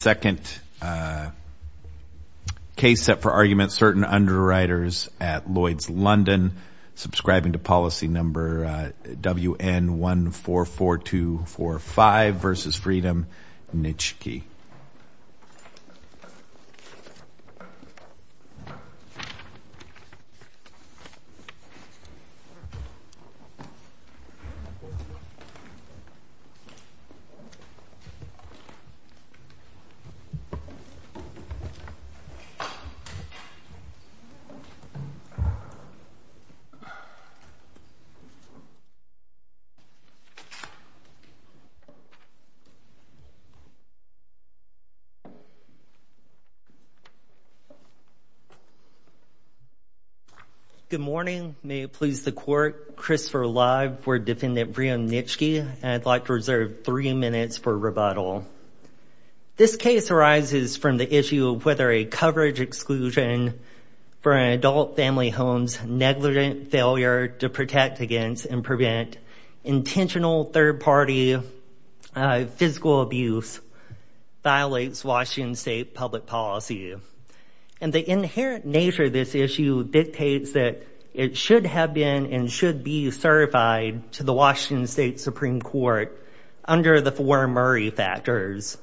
Second case set for argument, Certain Underwriters at Lloyds, London, subscribing to policy number WN144245 versus Freedom, Nitschke. Good morning. May it please the court, Christopher Lye for Defendant Brian Nitschke, and I'd like to reserve three minutes for rebuttal. This case arises from the issue of whether a coverage exclusion for an adult family home's negligent failure to protect against and prevent intentional third party physical abuse violates Washington State public policy. And the inherent nature of this issue dictates that it should have been and should be certified to the Washington State Supreme Court under the four Murray factors.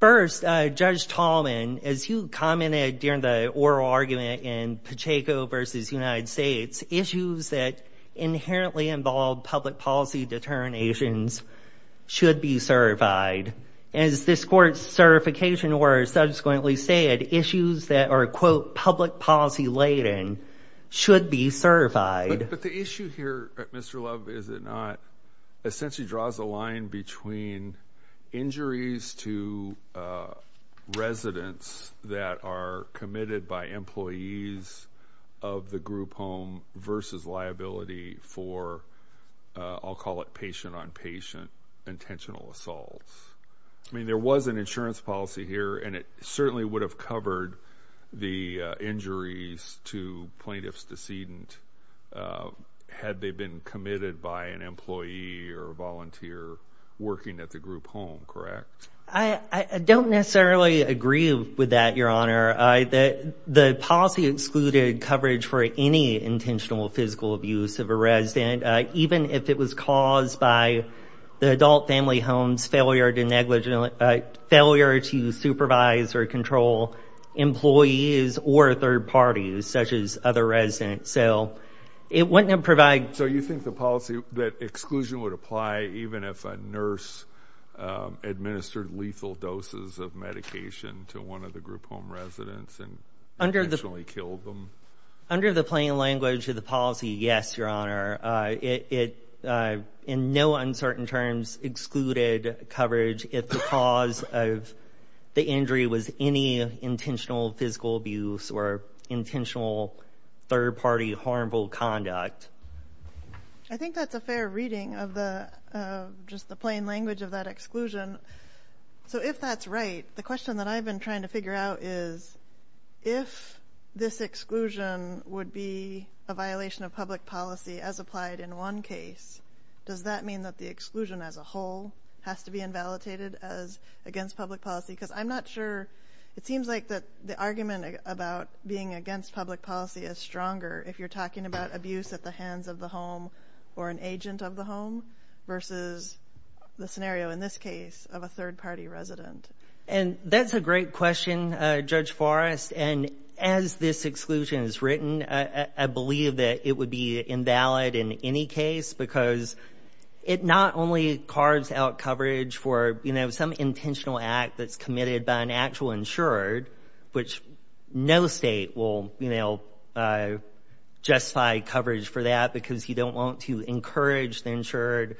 First, Judge Tallman, as you commented during the oral argument in Pacheco v. United States, issues that inherently involve public policy deterrent nations should be certified. As this court's certification order subsequently said, issues that are, quote, public policy laden, should be certified. But the issue here, Mr. Love, is it not essentially draws a line between injuries to residents that are committed by employees of the group home versus liability for, I'll call it patient on patient intentional assaults. I mean, there was an insurance policy here and it certainly would have covered the injuries to plaintiff's decedent had they been committed by an employee or volunteer working at the group home, correct? I don't necessarily agree with that, Your Honor. The policy excluded coverage for any intentional physical abuse of a resident, even if it was caused by the adult family home's failure to negligent failure to supervise or control employees or third parties, such as other residents. So it wouldn't have provided... So you think the policy, that exclusion would apply even if a nurse administered lethal doses of medication to one of the group home residents and intentionally killed them? Under the plain language of the policy, yes, Your Honor. It, in no uncertain terms, excluded coverage if the cause of the injury was any intentional physical abuse or intentional third party harmful conduct. I think that's a fair reading of the, just the plain language of that exclusion. So if that's right, the question that I've been trying to figure out is, if this exclusion would be a violation of public policy as applied in one case, does that mean that the exclusion as a whole has to be invalidated as against public policy? Because I'm not sure, it seems like that the argument about being against public policy is stronger if you're talking about abuse at the hands of the home or an agent of the home versus the scenario in this case of a third party resident. And that's a great question, Judge Forrest. And as this exclusion is written, I believe that it would be invalid in any case because it not only carves out coverage for, you know, some intentional act that's committed by an actual insured, which no state will, you know, justify coverage for that because you don't want to encourage the insured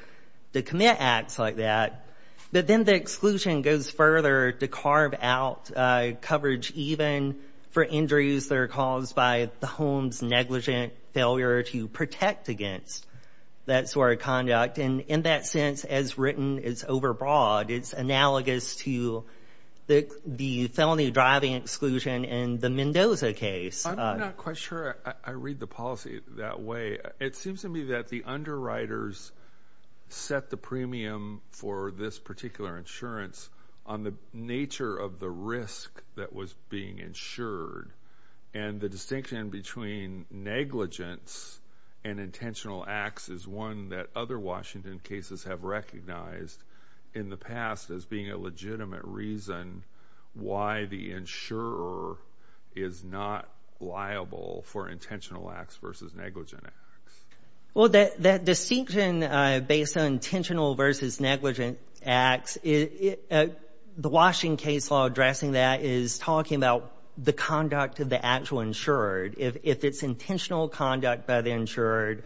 to commit acts like that, but then the exclusion goes further to carve out coverage even for injuries that are caused by the home's negligent failure to protect against that sort of conduct. And in that sense, as written, it's overbroad. It's analogous to the felony driving exclusion in the Mendoza case. I'm not quite sure I read the policy that way. It seems to me that the underwriters set the premium for this particular insurance on the nature of the risk that was being insured and the distinction between negligence and intentional acts is one that other Washington cases have recognized in the past as being a legitimate reason why the insurer is not liable for intentional acts versus negligent acts. Well, that distinction based on intentional versus negligent acts, the Washington case law addressing that is talking about the conduct of the actual insured. If it's intentional conduct by the insured,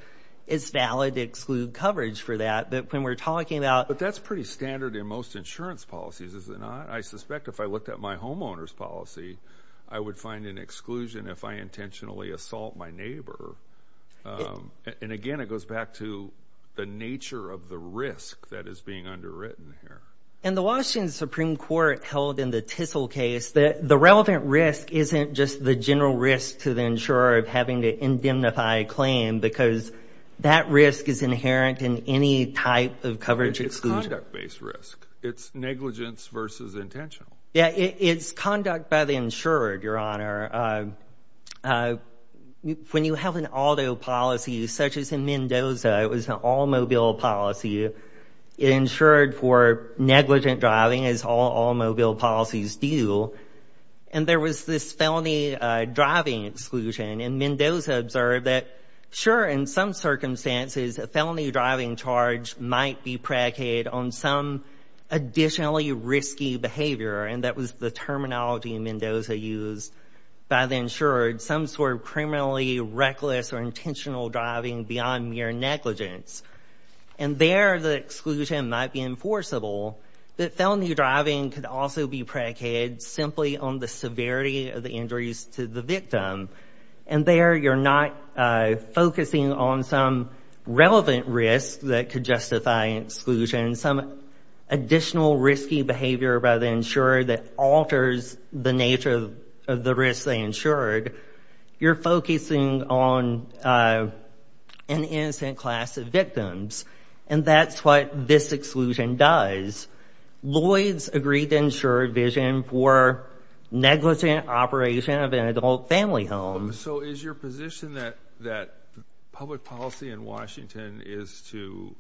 it's valid to exclude coverage for that. But when we're talking about... But that's pretty standard in most insurance policies, is it not? I suspect if I looked at my homeowner's policy, I would find an exclusion if I intentionally assault my neighbor. And again, it goes back to the nature of the risk that is being underwritten here. And the Washington Supreme Court held in the Tissell case that the relevant risk isn't just the general risk to the insurer of having to indemnify a claim because that risk is inherent in any type of coverage exclusion. It's conduct-based risk. It's negligence versus intentional. Yeah, it's conduct by the insured, Your Honor. When you have an auto policy such as in Mendoza, it was an all-mobile policy. It insured for negligent driving, as all all-mobile policies do. And there was this felony driving exclusion. And Mendoza observed that, sure, in some circumstances, a felony driving charge might be predicated on some additionally risky behavior. And that was the terminology Mendoza used by the insured. Some sort of criminally reckless or intentional driving beyond mere negligence. And there, the exclusion might be enforceable. But felony driving could also be predicated simply on the severity of the injuries to the victim. And there, you're not focusing on some relevant risk that could justify exclusion. Some additional risky behavior by the insurer that alters the nature of the risk they insured. You're looking at an innocent class of victims. And that's what this exclusion does. Lloyd's agreed to insure vision for negligent operation of an adult family home. So is your position that public policy in Washington is to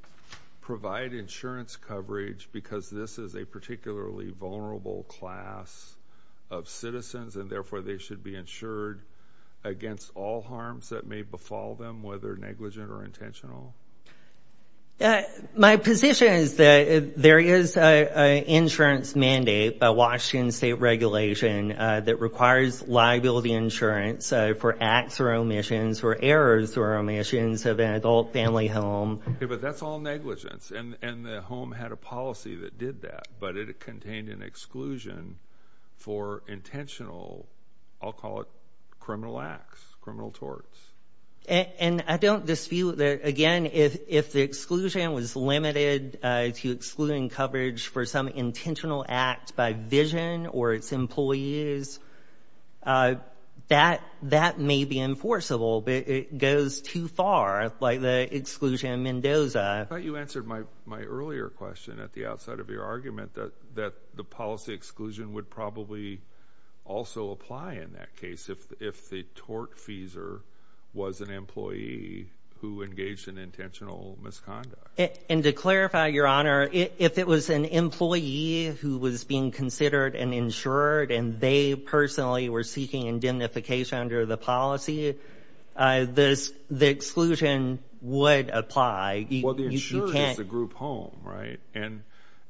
provide insurance coverage because this is a particularly vulnerable class of citizens, and therefore they should be insured against all harms that may befall them, whether negligent or intentional? My position is that there is an insurance mandate by Washington state regulation that requires liability insurance for acts or omissions or errors or omissions of an adult family home. But that's all negligence. And the home had a policy that did that. But it contained an exclusion for intentional, I'll call it criminal acts, criminal torts. And I don't dispute that. Again, if the exclusion was limited to excluding coverage for some intentional act by vision or its employees, that may be enforceable. But it goes too far like the exclusion in Mendoza. You answered my earlier question at the outside of your argument that the policy exclusion would probably also apply in that case if the tortfeasor was an employee who engaged in intentional misconduct. And to clarify, Your Honor, if it was an employee who was being considered and insured and they personally were seeking indemnification under the policy, the exclusion would apply. Well, the insurer is the group home, right? And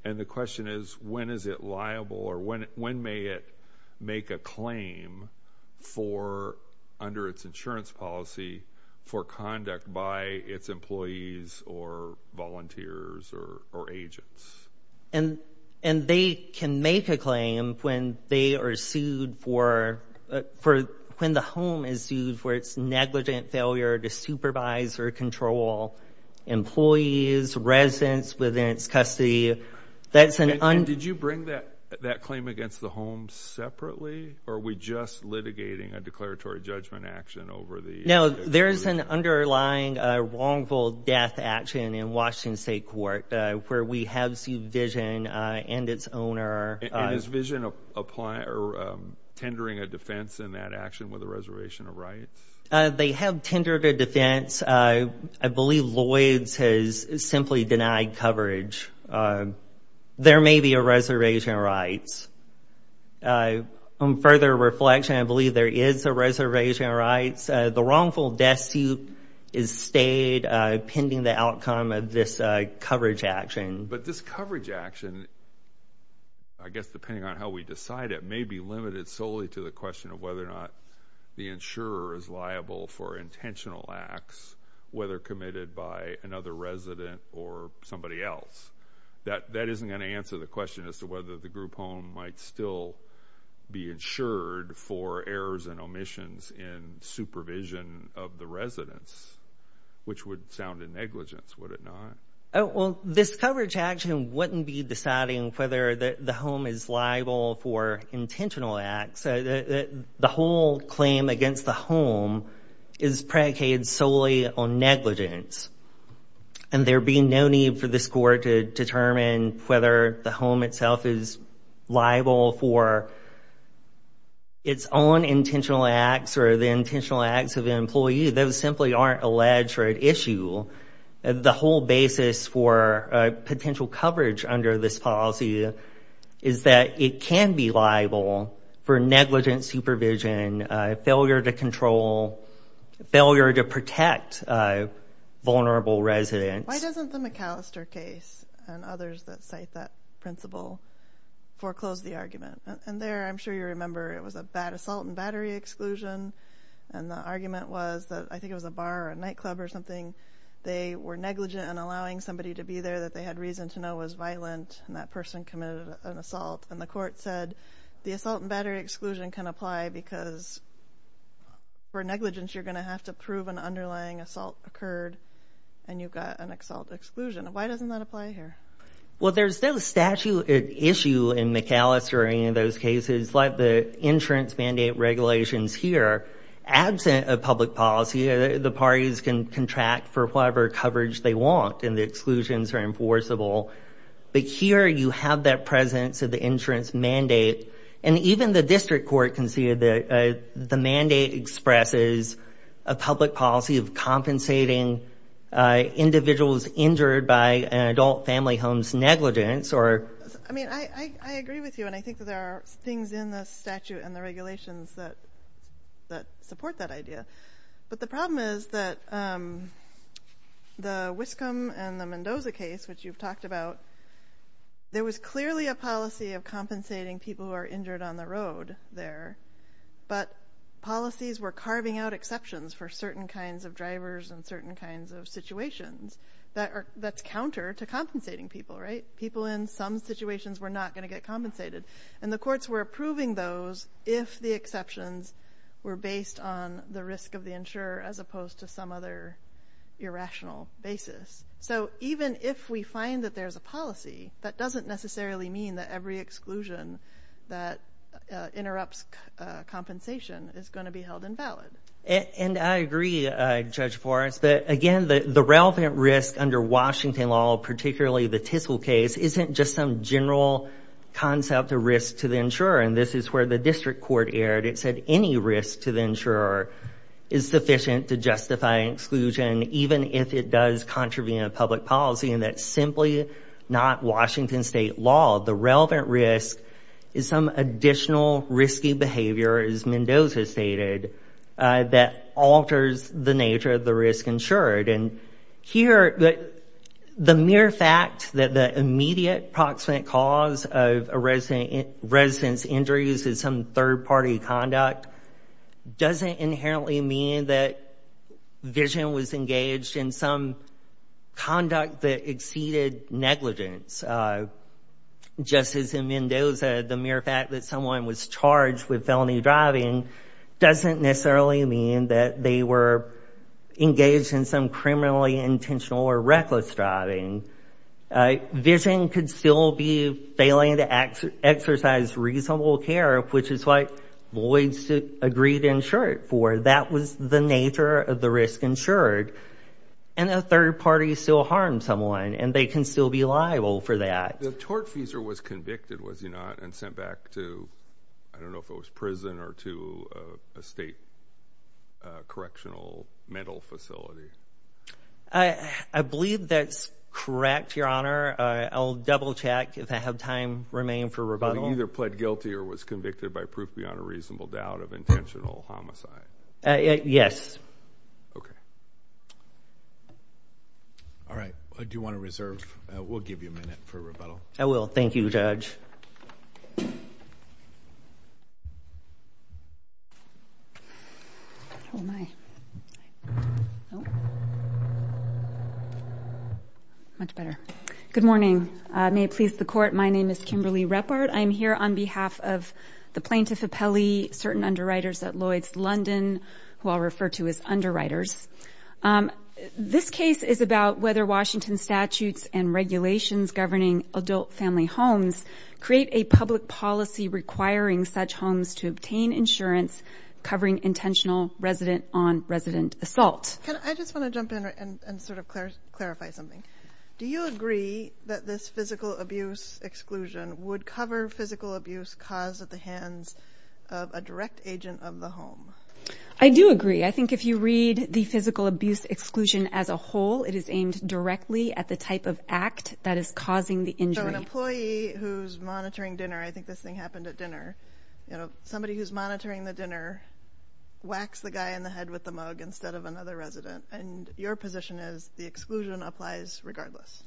the question is, when is it liable or when may it make a claim for, under its insurance policy, for conduct by its employees or volunteers or agents? And they can make a claim when they are sued for, when the home is sued for its negligent failure to supervise or control employees, residents within its custody. Did you bring that claim against the home separately? Or are we just litigating a declaratory judgment action over the... No, there is an underlying wrongful death action in Washington State Court where we have sued Vision and its owner. And is Vision tendering a defense in that action with a reservation of rights? They have tendered a defense. I believe Lloyd's has simply denied coverage. There may be a reservation of rights. On further reflection, I believe there is a reservation of rights. The wrongful death suit is stayed pending the outcome of this coverage action. But this coverage action, I guess depending on how we decide it, may be limited solely to the question of whether or not the insurer is liable for intentional acts, whether committed by another resident or somebody else. That isn't going to answer the question as to whether the group home might still be insured for errors and omissions in supervision of the residents, which would sound a negligence, would it not? Well, this coverage action wouldn't be deciding whether the home is liable for intentional acts. The whole claim against the home is predicated solely on negligence. And there be no need for this court to determine whether the home itself is liable for its own intentional acts or the intentional acts of an employee. Those simply aren't alleged or at issue. The whole basis for potential coverage under this policy is that it can be liable, but for negligent supervision, failure to control, failure to protect vulnerable residents. Why doesn't the McAllister case and others that cite that principle foreclose the argument? And there I'm sure you remember it was a bad assault and battery exclusion. And the argument was that I think it was a bar or a nightclub or something. They were negligent in allowing somebody to be there that they had reason to know was violent. And that person committed an assault. And the court said the assault and battery exclusion can apply because for negligence, you're going to have to prove an underlying assault occurred and you've got an assault exclusion. Why doesn't that apply here? Well there's no statute at issue in McAllister or any of those cases like the insurance mandate regulations here. Absent of public policy, the parties can contract for whatever coverage they want and the exclusions are enforceable. But here you have that presence of the insurance mandate. And even the district court can see that the mandate expresses a public policy of compensating individuals injured by an adult family home's negligence. I agree with you and I think there are things in the statute and the regulations that support that idea. But the problem is that the Wiscombe and the Mendoza case, which you've talked about, there was clearly a policy of compensating people who are injured on the road there. But policies were carving out exceptions for certain kinds of drivers and certain kinds of situations. That's counter to compensating people, right? People in some situations were not going to get compensated. And the courts were approving those if the exceptions were based on the risk of the insurer as opposed to some other irrational basis. So even if we find that there's a policy, that doesn't necessarily mean that every exclusion that interrupts compensation is going to be held invalid. And I agree, Judge Forrest, that again the relevant risk under Washington law, particularly the Tissel case, isn't just some general concept of risk to the insurer. And this is where the district court erred. It said any risk to the insurer is sufficient to justify exclusion, even if it does contravene a public policy. And that's simply not Washington state law. The relevant risk is some additional risky behavior, as Mendoza stated, that alters the nature of the risk insured. And here, the mere fact that the immediate proximate cause of a resident's injuries is some third party conduct doesn't inherently mean that Vision was engaged in some conduct that exceeded negligence. Just as in Mendoza, the mere fact that someone was charged with felony driving doesn't necessarily mean that they were engaged in some criminally intentional or reckless driving. Vision could still be failing to exercise reasonable care, which is what Lloyds agreed to insure it for. That was the nature of the risk insured. And a third party still harmed someone, and they can still be liable for that. The tortfeasor was convicted, was he not, and sent back to, I don't know if it was prison or to a state correctional mental facility? I believe that's correct, Your Honor. I'll double check if I have time remaining for rebuttal. He either pled guilty or was convicted by proof beyond a reasonable doubt of intentional homicide. Yes. Okay. All right. Do you want to reserve? We'll give you a minute for rebuttal. I will. Thank you, Judge. Much better. Good morning. May it please the court, my name is Kimberly Reppard. I am here on behalf of the plaintiff of Pelley, certain underwriters at Lloyds London, who I'll refer to as underwriters. This case is about whether Washington statutes and regulations governing adult family homes create a public policy requiring such homes to obtain insurance covering intentional resident-on-resident assault. I just want to jump in and sort of clarify something. Do you agree that this physical abuse exclusion would cover physical abuse caused at the hands of a direct agent of the home? I do agree. I think if you read the physical abuse exclusion as a whole, it is aimed directly at the type of act that is causing the injury. So an employee who's monitoring dinner, I think this thing happened at dinner, you know, somebody who's monitoring the dinner, whacks the guy in the head with the mug instead of another resident. And your position is the exclusion applies regardless.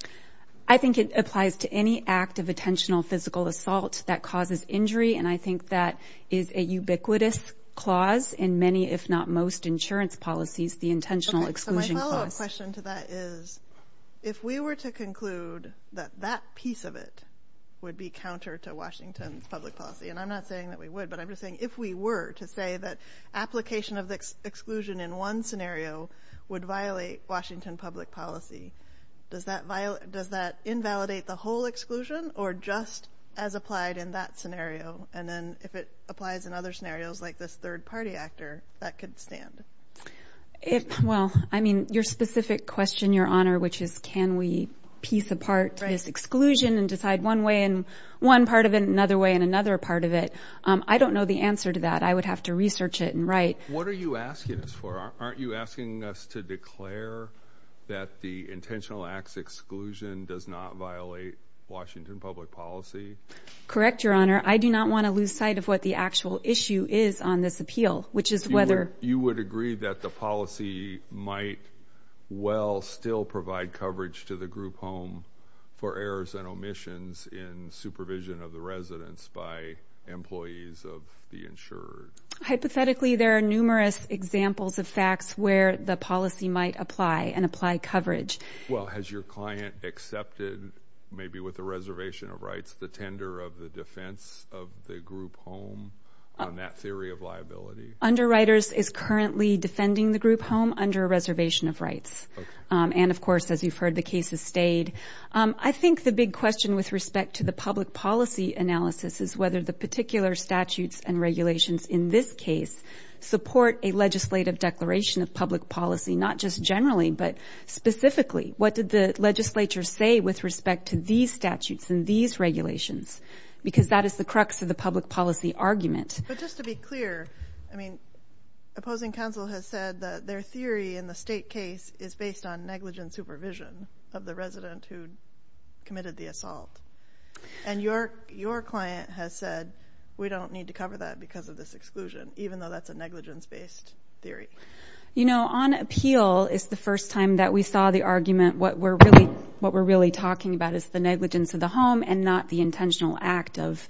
I think it applies to any act of intentional physical assault that causes injury. And I think that is a ubiquitous clause in many, if not most insurance policies, the intentional exclusion clause. My question to that is, if we were to conclude that that piece of it would be counter to Washington's public policy, and I'm not saying that we would, but I'm just saying if we were to say that application of the exclusion in one scenario would violate Washington public policy, does that invalidate the whole exclusion or just as applied in that scenario? And then if it applies in other scenarios like this third party actor, that could stand? Well, I mean, your specific question, Your Honor, which is, can we piece apart this exclusion and decide one way and one part of it another way and another part of it? I don't know the answer to that. I would have to research it and write. What are you asking us for? Aren't you asking us to declare that the intentional acts exclusion does not violate Washington public policy? Correct, Your Honor. I do not want to lose sight of what the actual issue is on this appeal, which is whether You would agree that the policy might well still provide coverage to the group home for errors and omissions in supervision of the residents by employees of the insurer? Hypothetically, there are numerous examples of facts where the policy might apply and apply coverage. Well, has your client accepted, maybe with a reservation of rights, the tender of the defense of the group home on that theory of liability? Underwriters is currently defending the group home under a reservation of rights. And, of course, as you've heard, the case has stayed. I think the big question with respect to the public policy analysis is whether the particular statutes and regulations in this case support a legislative declaration of public policy, not just generally, but specifically. What did the legislature say with respect to these statutes and these regulations? Because that is the crux of the public policy argument. But just to be clear, I mean, opposing counsel has said that their theory in the state case is based on negligence supervision of the resident who committed the assault. And your client has said, we don't need to cover that because of this exclusion, even though that's a negligence-based theory. You know, on appeal, it's the first time that we saw the argument. What we're really talking about is the negligence of the home and not the intentional act of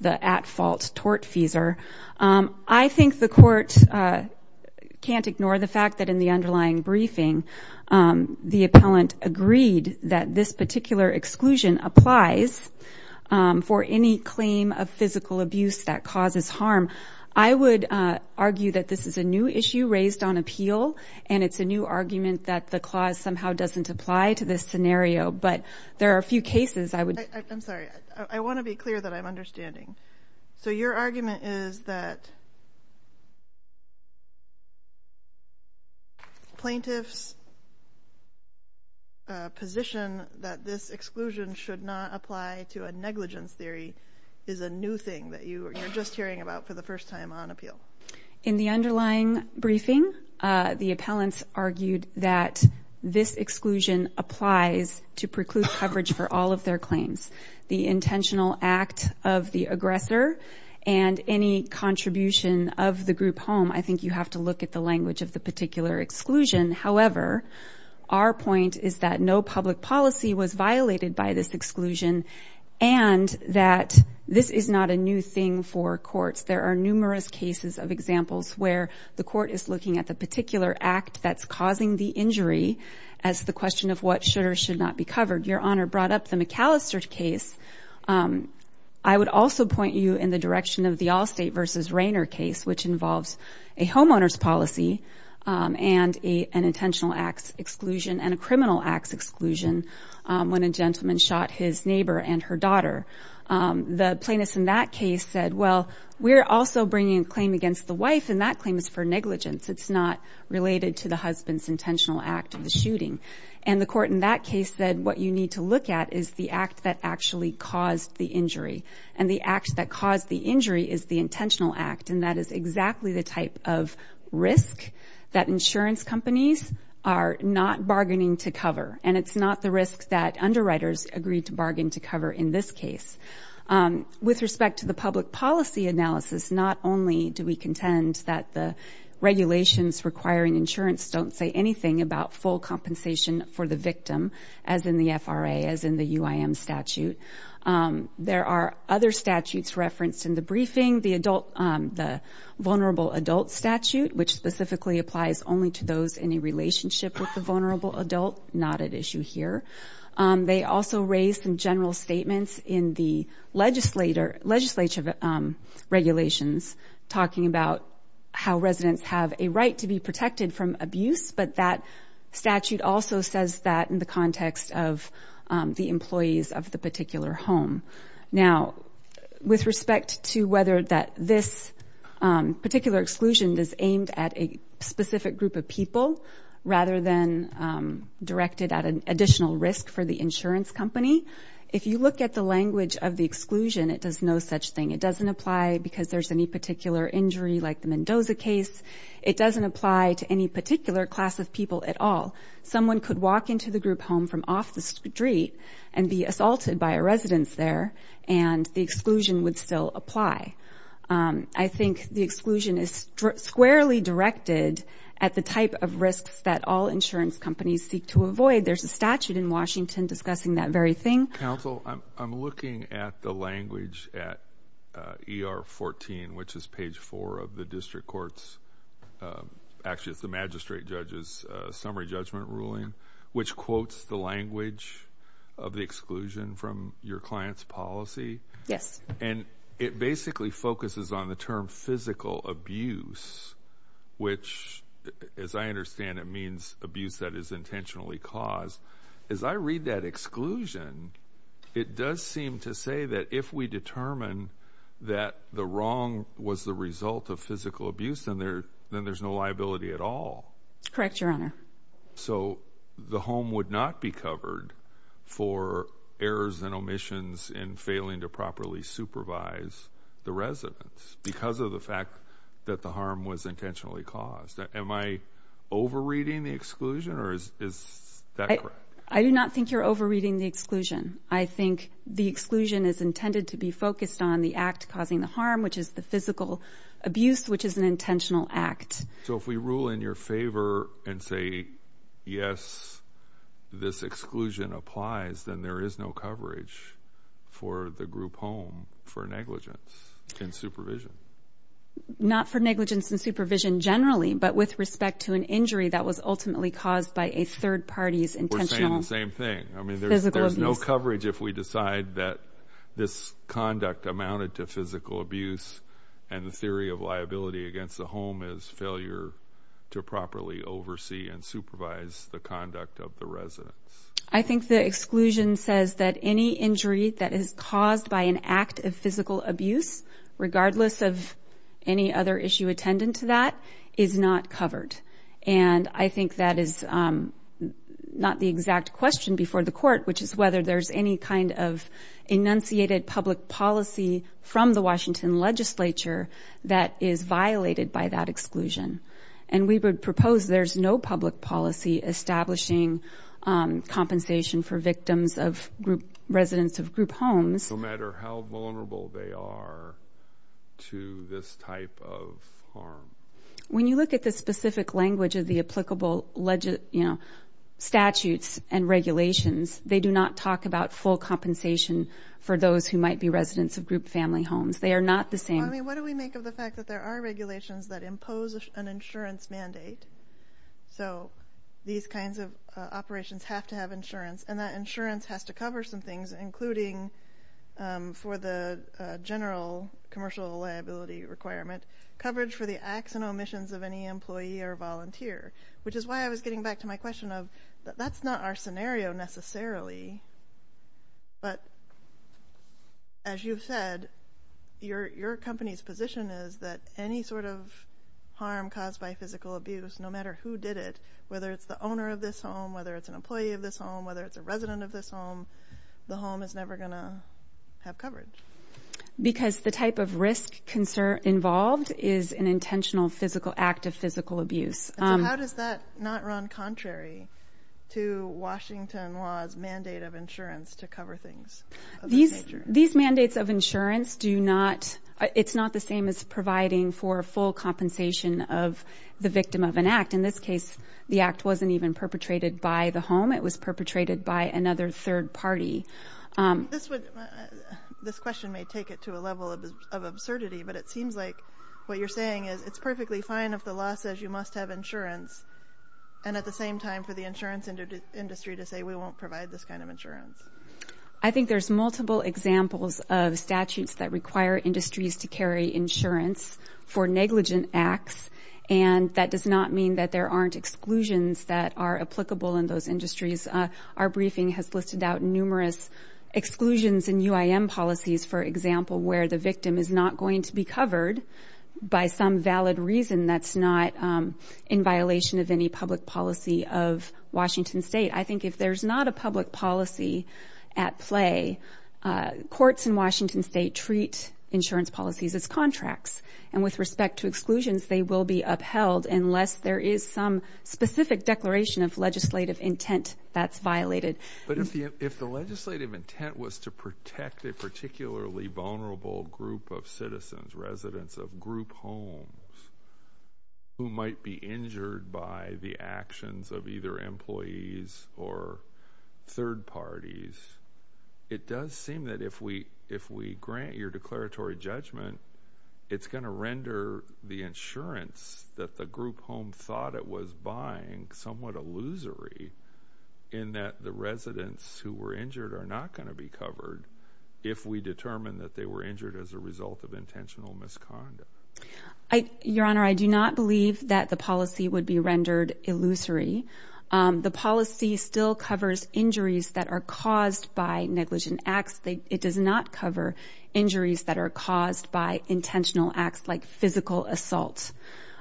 the at-fault tortfeasor. I think the court can't ignore the fact that in the underlying briefing, the appellant agreed that this particular exclusion applies for any claim of physical abuse that causes harm. I would argue that this is a new issue raised on appeal, and it's a new argument that the clause somehow doesn't apply to this scenario. But there are a few cases I would... I'm sorry. I want to be clear that I'm understanding. So your argument is that plaintiff's position that this exclusion should not apply to a negligence theory is a new thing that you're just hearing about for the first time on appeal? In the underlying briefing, the appellants argued that this exclusion applies to preclude coverage for all of their claims. The intentional act of the aggressor and any contribution of the group home, I think you have to look at the language of the particular exclusion. However, our point is that no public policy was violated by this exclusion and that this is not a new thing for courts. There are numerous cases of examples where the court is looking at the particular act that's causing the injury as the question of what should or should not be covered. Your Honor brought up the McAllister case. I would also point you in the direction of the Allstate v. Rayner case, which involves a homeowner's policy and an intentional acts exclusion and a criminal acts exclusion when a gentleman shot his neighbor and her daughter. The plaintiff in that case said, well, we're also bringing a claim against the wife and that claim is for negligence. It's not related to the husband's intentional act of the shooting. And the court in that case said what you need to look at is the act that actually caused the injury. And the act that caused the injury is the intentional act and that is exactly the type of risk that insurance companies are not bargaining to cover. And it's not the risk that underwriters agreed to bargain to cover in this case. With respect to the public policy analysis, not only do we contend that the regulations requiring insurance don't say anything about full compensation for the victim, as in the FRA, as in the UIM statute, there are other statutes referenced in the briefing. The vulnerable adult statute, which specifically applies only to those in a relationship with the vulnerable adult, not at issue here. They also raise some general statements in the legislature regulations talking about how residents have a right to be protected from abuse, but that statute also says that in the context of the employees of the particular home. Now with respect to whether that this particular exclusion is aimed at a specific group of people, and directed at an additional risk for the insurance company, if you look at the language of the exclusion, it does no such thing. It doesn't apply because there's any particular injury like the Mendoza case. It doesn't apply to any particular class of people at all. Someone could walk into the group home from off the street and be assaulted by a resident there and the exclusion would still apply. I think the exclusion is squarely directed at the type of risks that all insurance companies seek to avoid. There's a statute in Washington discussing that very thing. Counsel, I'm looking at the language at ER 14, which is page 4 of the district court's – actually, it's the magistrate judge's summary judgment ruling, which quotes the language of the exclusion from your client's policy, and it basically focuses on the term physical abuse, which as I understand it means abuse that is intentionally caused. As I read that exclusion, it does seem to say that if we determine that the wrong was the result of physical abuse, then there's no liability at all. Correct, Your Honor. So the home would not be covered for errors and omissions in failing to properly supervise the residents because of the fact that the harm was intentionally caused. Am I over-reading the exclusion or is that correct? I do not think you're over-reading the exclusion. I think the exclusion is intended to be focused on the act causing the harm, which is the physical abuse, which is an intentional act. So if we rule in your favor and say, yes, this exclusion applies, then there is no coverage for the group home for negligence in supervision. Not for negligence in supervision generally, but with respect to an injury that was ultimately caused by a third party's intentional physical abuse. We're saying the same thing. I mean, there's no coverage if we decide that this conduct amounted to physical abuse and the theory of liability against the home is failure to properly oversee and supervise the conduct of the residents. I think the exclusion says that any injury that is caused by an act of physical abuse, regardless of any other issue attendant to that, is not covered. And I think that is not the exact question before the court, which is whether there's any kind of enunciated public policy from the Washington legislature that is violated by that exclusion. And we would propose there's no public policy establishing compensation for victims of group, residents of group homes. No matter how vulnerable they are to this type of harm. When you look at the specific language of the applicable, you know, statutes and regulations, they do not talk about full compensation for those who might be residents of group family homes. They are not the same. What do we make of the fact that there are regulations that impose an insurance mandate? So these kinds of operations have to have insurance. And that insurance has to cover some things, including for the general commercial liability requirement, coverage for the acts and omissions of any employee or volunteer. Which is why I was getting back to my question of that's not our scenario necessarily. But as you've said, your company is not the only company. The company's position is that any sort of harm caused by physical abuse, no matter who did it, whether it's the owner of this home, whether it's an employee of this home, whether it's a resident of this home, the home is never going to have coverage. Because the type of risk involved is an intentional physical act of physical abuse. So how does that not run contrary to Washington law's mandate of insurance to cover things of that nature? These mandates of insurance do not, it's not the same as providing for full compensation of the victim of an act. In this case, the act wasn't even perpetrated by the home. It was perpetrated by another third party. This question may take it to a level of absurdity, but it seems like what you're saying is it's perfectly fine if the law says you must have insurance, and at the same time for the insurance I think there's multiple examples of statutes that require industries to carry insurance for negligent acts, and that does not mean that there aren't exclusions that are applicable in those industries. Our briefing has listed out numerous exclusions in UIM policies, for example, where the victim is not going to be covered by some valid reason that's not in violation of any public policy of Washington state. I think if there's not a public policy at play, courts in Washington state treat insurance policies as contracts, and with respect to exclusions they will be upheld unless there is some specific declaration of legislative intent that's violated. But if the legislative intent was to protect a particularly vulnerable group of citizens, residents of group homes, who might be injured by the actions of either employees or third parties, it does seem that if we grant your declaratory judgment, it's going to render the insurance that the group home thought it was buying somewhat illusory in that the residents who were injured are not going to be covered if we determine that they were negligent. Your Honor, I do not believe that the policy would be rendered illusory. The policy still covers injuries that are caused by negligent acts. It does not cover injuries that are caused by intentional acts like physical assault.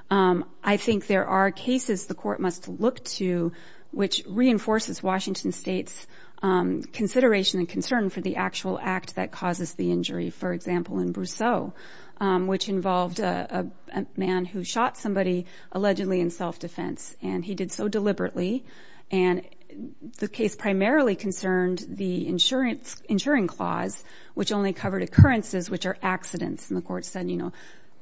I think there are cases the court must look to which reinforces Washington state's consideration and concern for the actual act that causes the injury. For example, in Brousseau, which involved a man who shot somebody allegedly in self-defense, and he did so deliberately. And the case primarily concerned the insuring clause, which only covered occurrences which are accidents. And the court said, you know,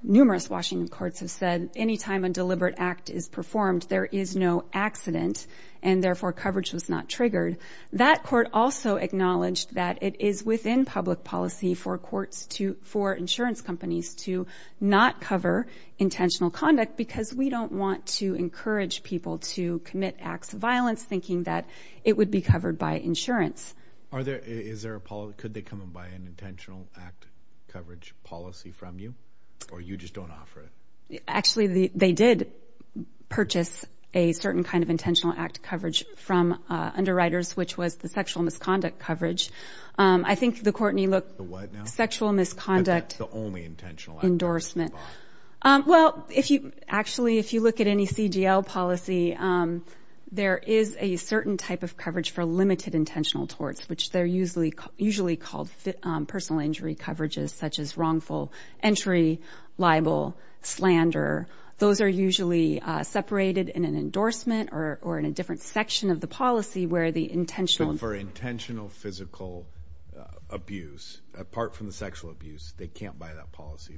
numerous Washington courts have said any time a deliberate act is performed, there is no accident and therefore coverage was not triggered. That court also acknowledged that it is within public policy for insurance companies to not cover intentional conduct because we don't want to encourage people to commit acts of violence thinking that it would be covered by insurance. Could they come and buy an intentional act coverage policy from you? Or you just don't offer it? Actually they did purchase a certain kind of intentional act coverage from underwriters, which was the sexual misconduct coverage. I think the court need to look at the sexual misconduct endorsement. Well, actually if you look at any CDL policy, there is a certain type of coverage for limited intentional torts, which they're usually called personal injury coverages such as wrongful entry, libel, slander. Those are usually separated in an endorsement or in a different section of the policy where the intentional... So for intentional physical abuse, apart from the sexual abuse, they can't buy that policy,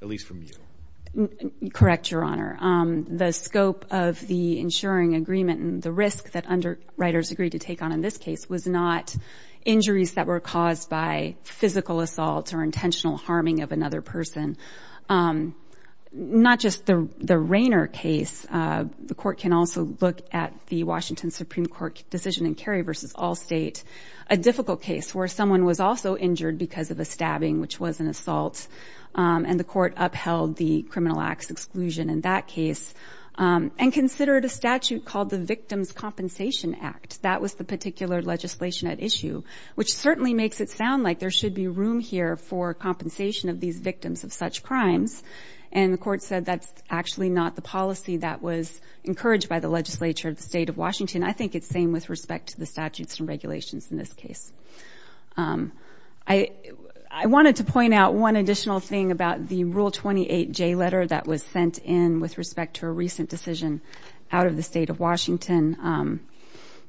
at least from you. Correct, Your Honor. The scope of the insuring agreement and the risk that underwriters agreed to take on in this case was not injuries that were caused by physical assault or intentional harming of another person. Not just the Rainer case, the court can also look at the Washington Supreme Court decision in Cary v. Allstate, a difficult case where someone was also injured because of a stabbing, which was an assault, and the court upheld the criminal acts exclusion in that case and considered a statute called the Victim's Compensation Act. That was the particular legislation at issue, which certainly makes it sound like there should be room here for compensation of these victims of such crimes, and the court said that's actually not the policy that was encouraged by the legislature of the state of Washington. I think it's the same with respect to the statutes and regulations in this case. I wanted to point out one additional thing about the Rule 28J letter that was sent in with respect to a recent decision out of the state of Washington.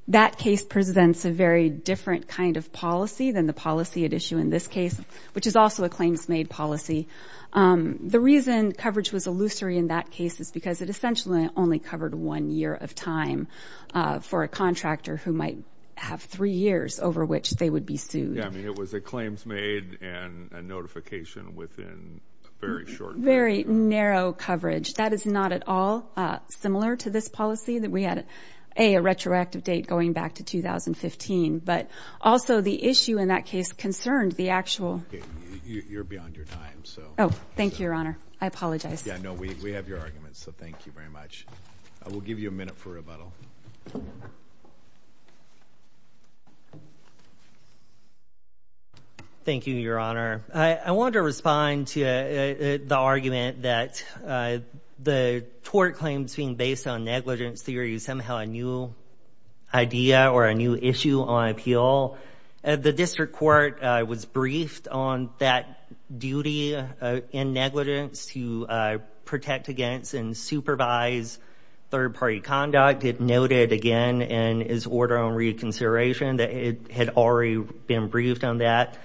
That case presents a very different kind of policy than the policy at issue in this case, which is also a claims made policy. The reason coverage was illusory in that case is because it essentially only covered one year of time for a contractor who might have three years over which they would be sued. Yeah, I mean, it was a claims made and a notification within a very short period. Very narrow coverage. That is not at all similar to this policy. We had, A, a retroactive date going back to 2015, but also the issue in that case concerned the actual... You're beyond your time, so... Oh, thank you, Your Honor. I apologize. Yeah, no, we have your arguments, so thank you very much. We'll give you a minute for rebuttal. Thank you, Your Honor. I wanted to respond to the argument that the tort claims being a new idea or a new issue on appeal. The district court was briefed on that duty and negligence to protect against and supervise third party conduct. It noted again in his order on reconsideration that it had already been briefed on that.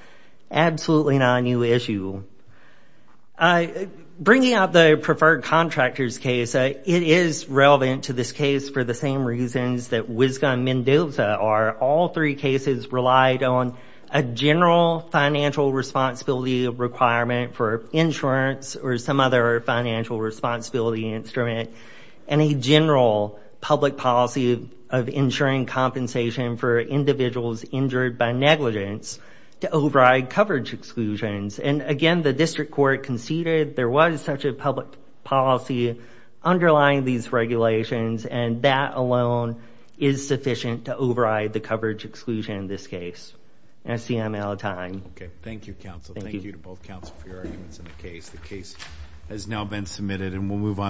Absolutely not a new issue. Bringing up the preferred contractors case, it is relevant to this case for the same reasons that Wisga and Mendoza are. All three cases relied on a general financial responsibility requirement for insurance or some other financial responsibility instrument and a general public policy of insuring compensation for individuals injured by negligence to override coverage exclusions. And again, the district court conceded there was such a public policy underlying these regulations and that alone is sufficient to override the coverage exclusion in this case. And I see I'm out of time. Okay. Thank you, counsel. Thank you to both counsel for your arguments in the case. The case has now been submitted and we'll move on.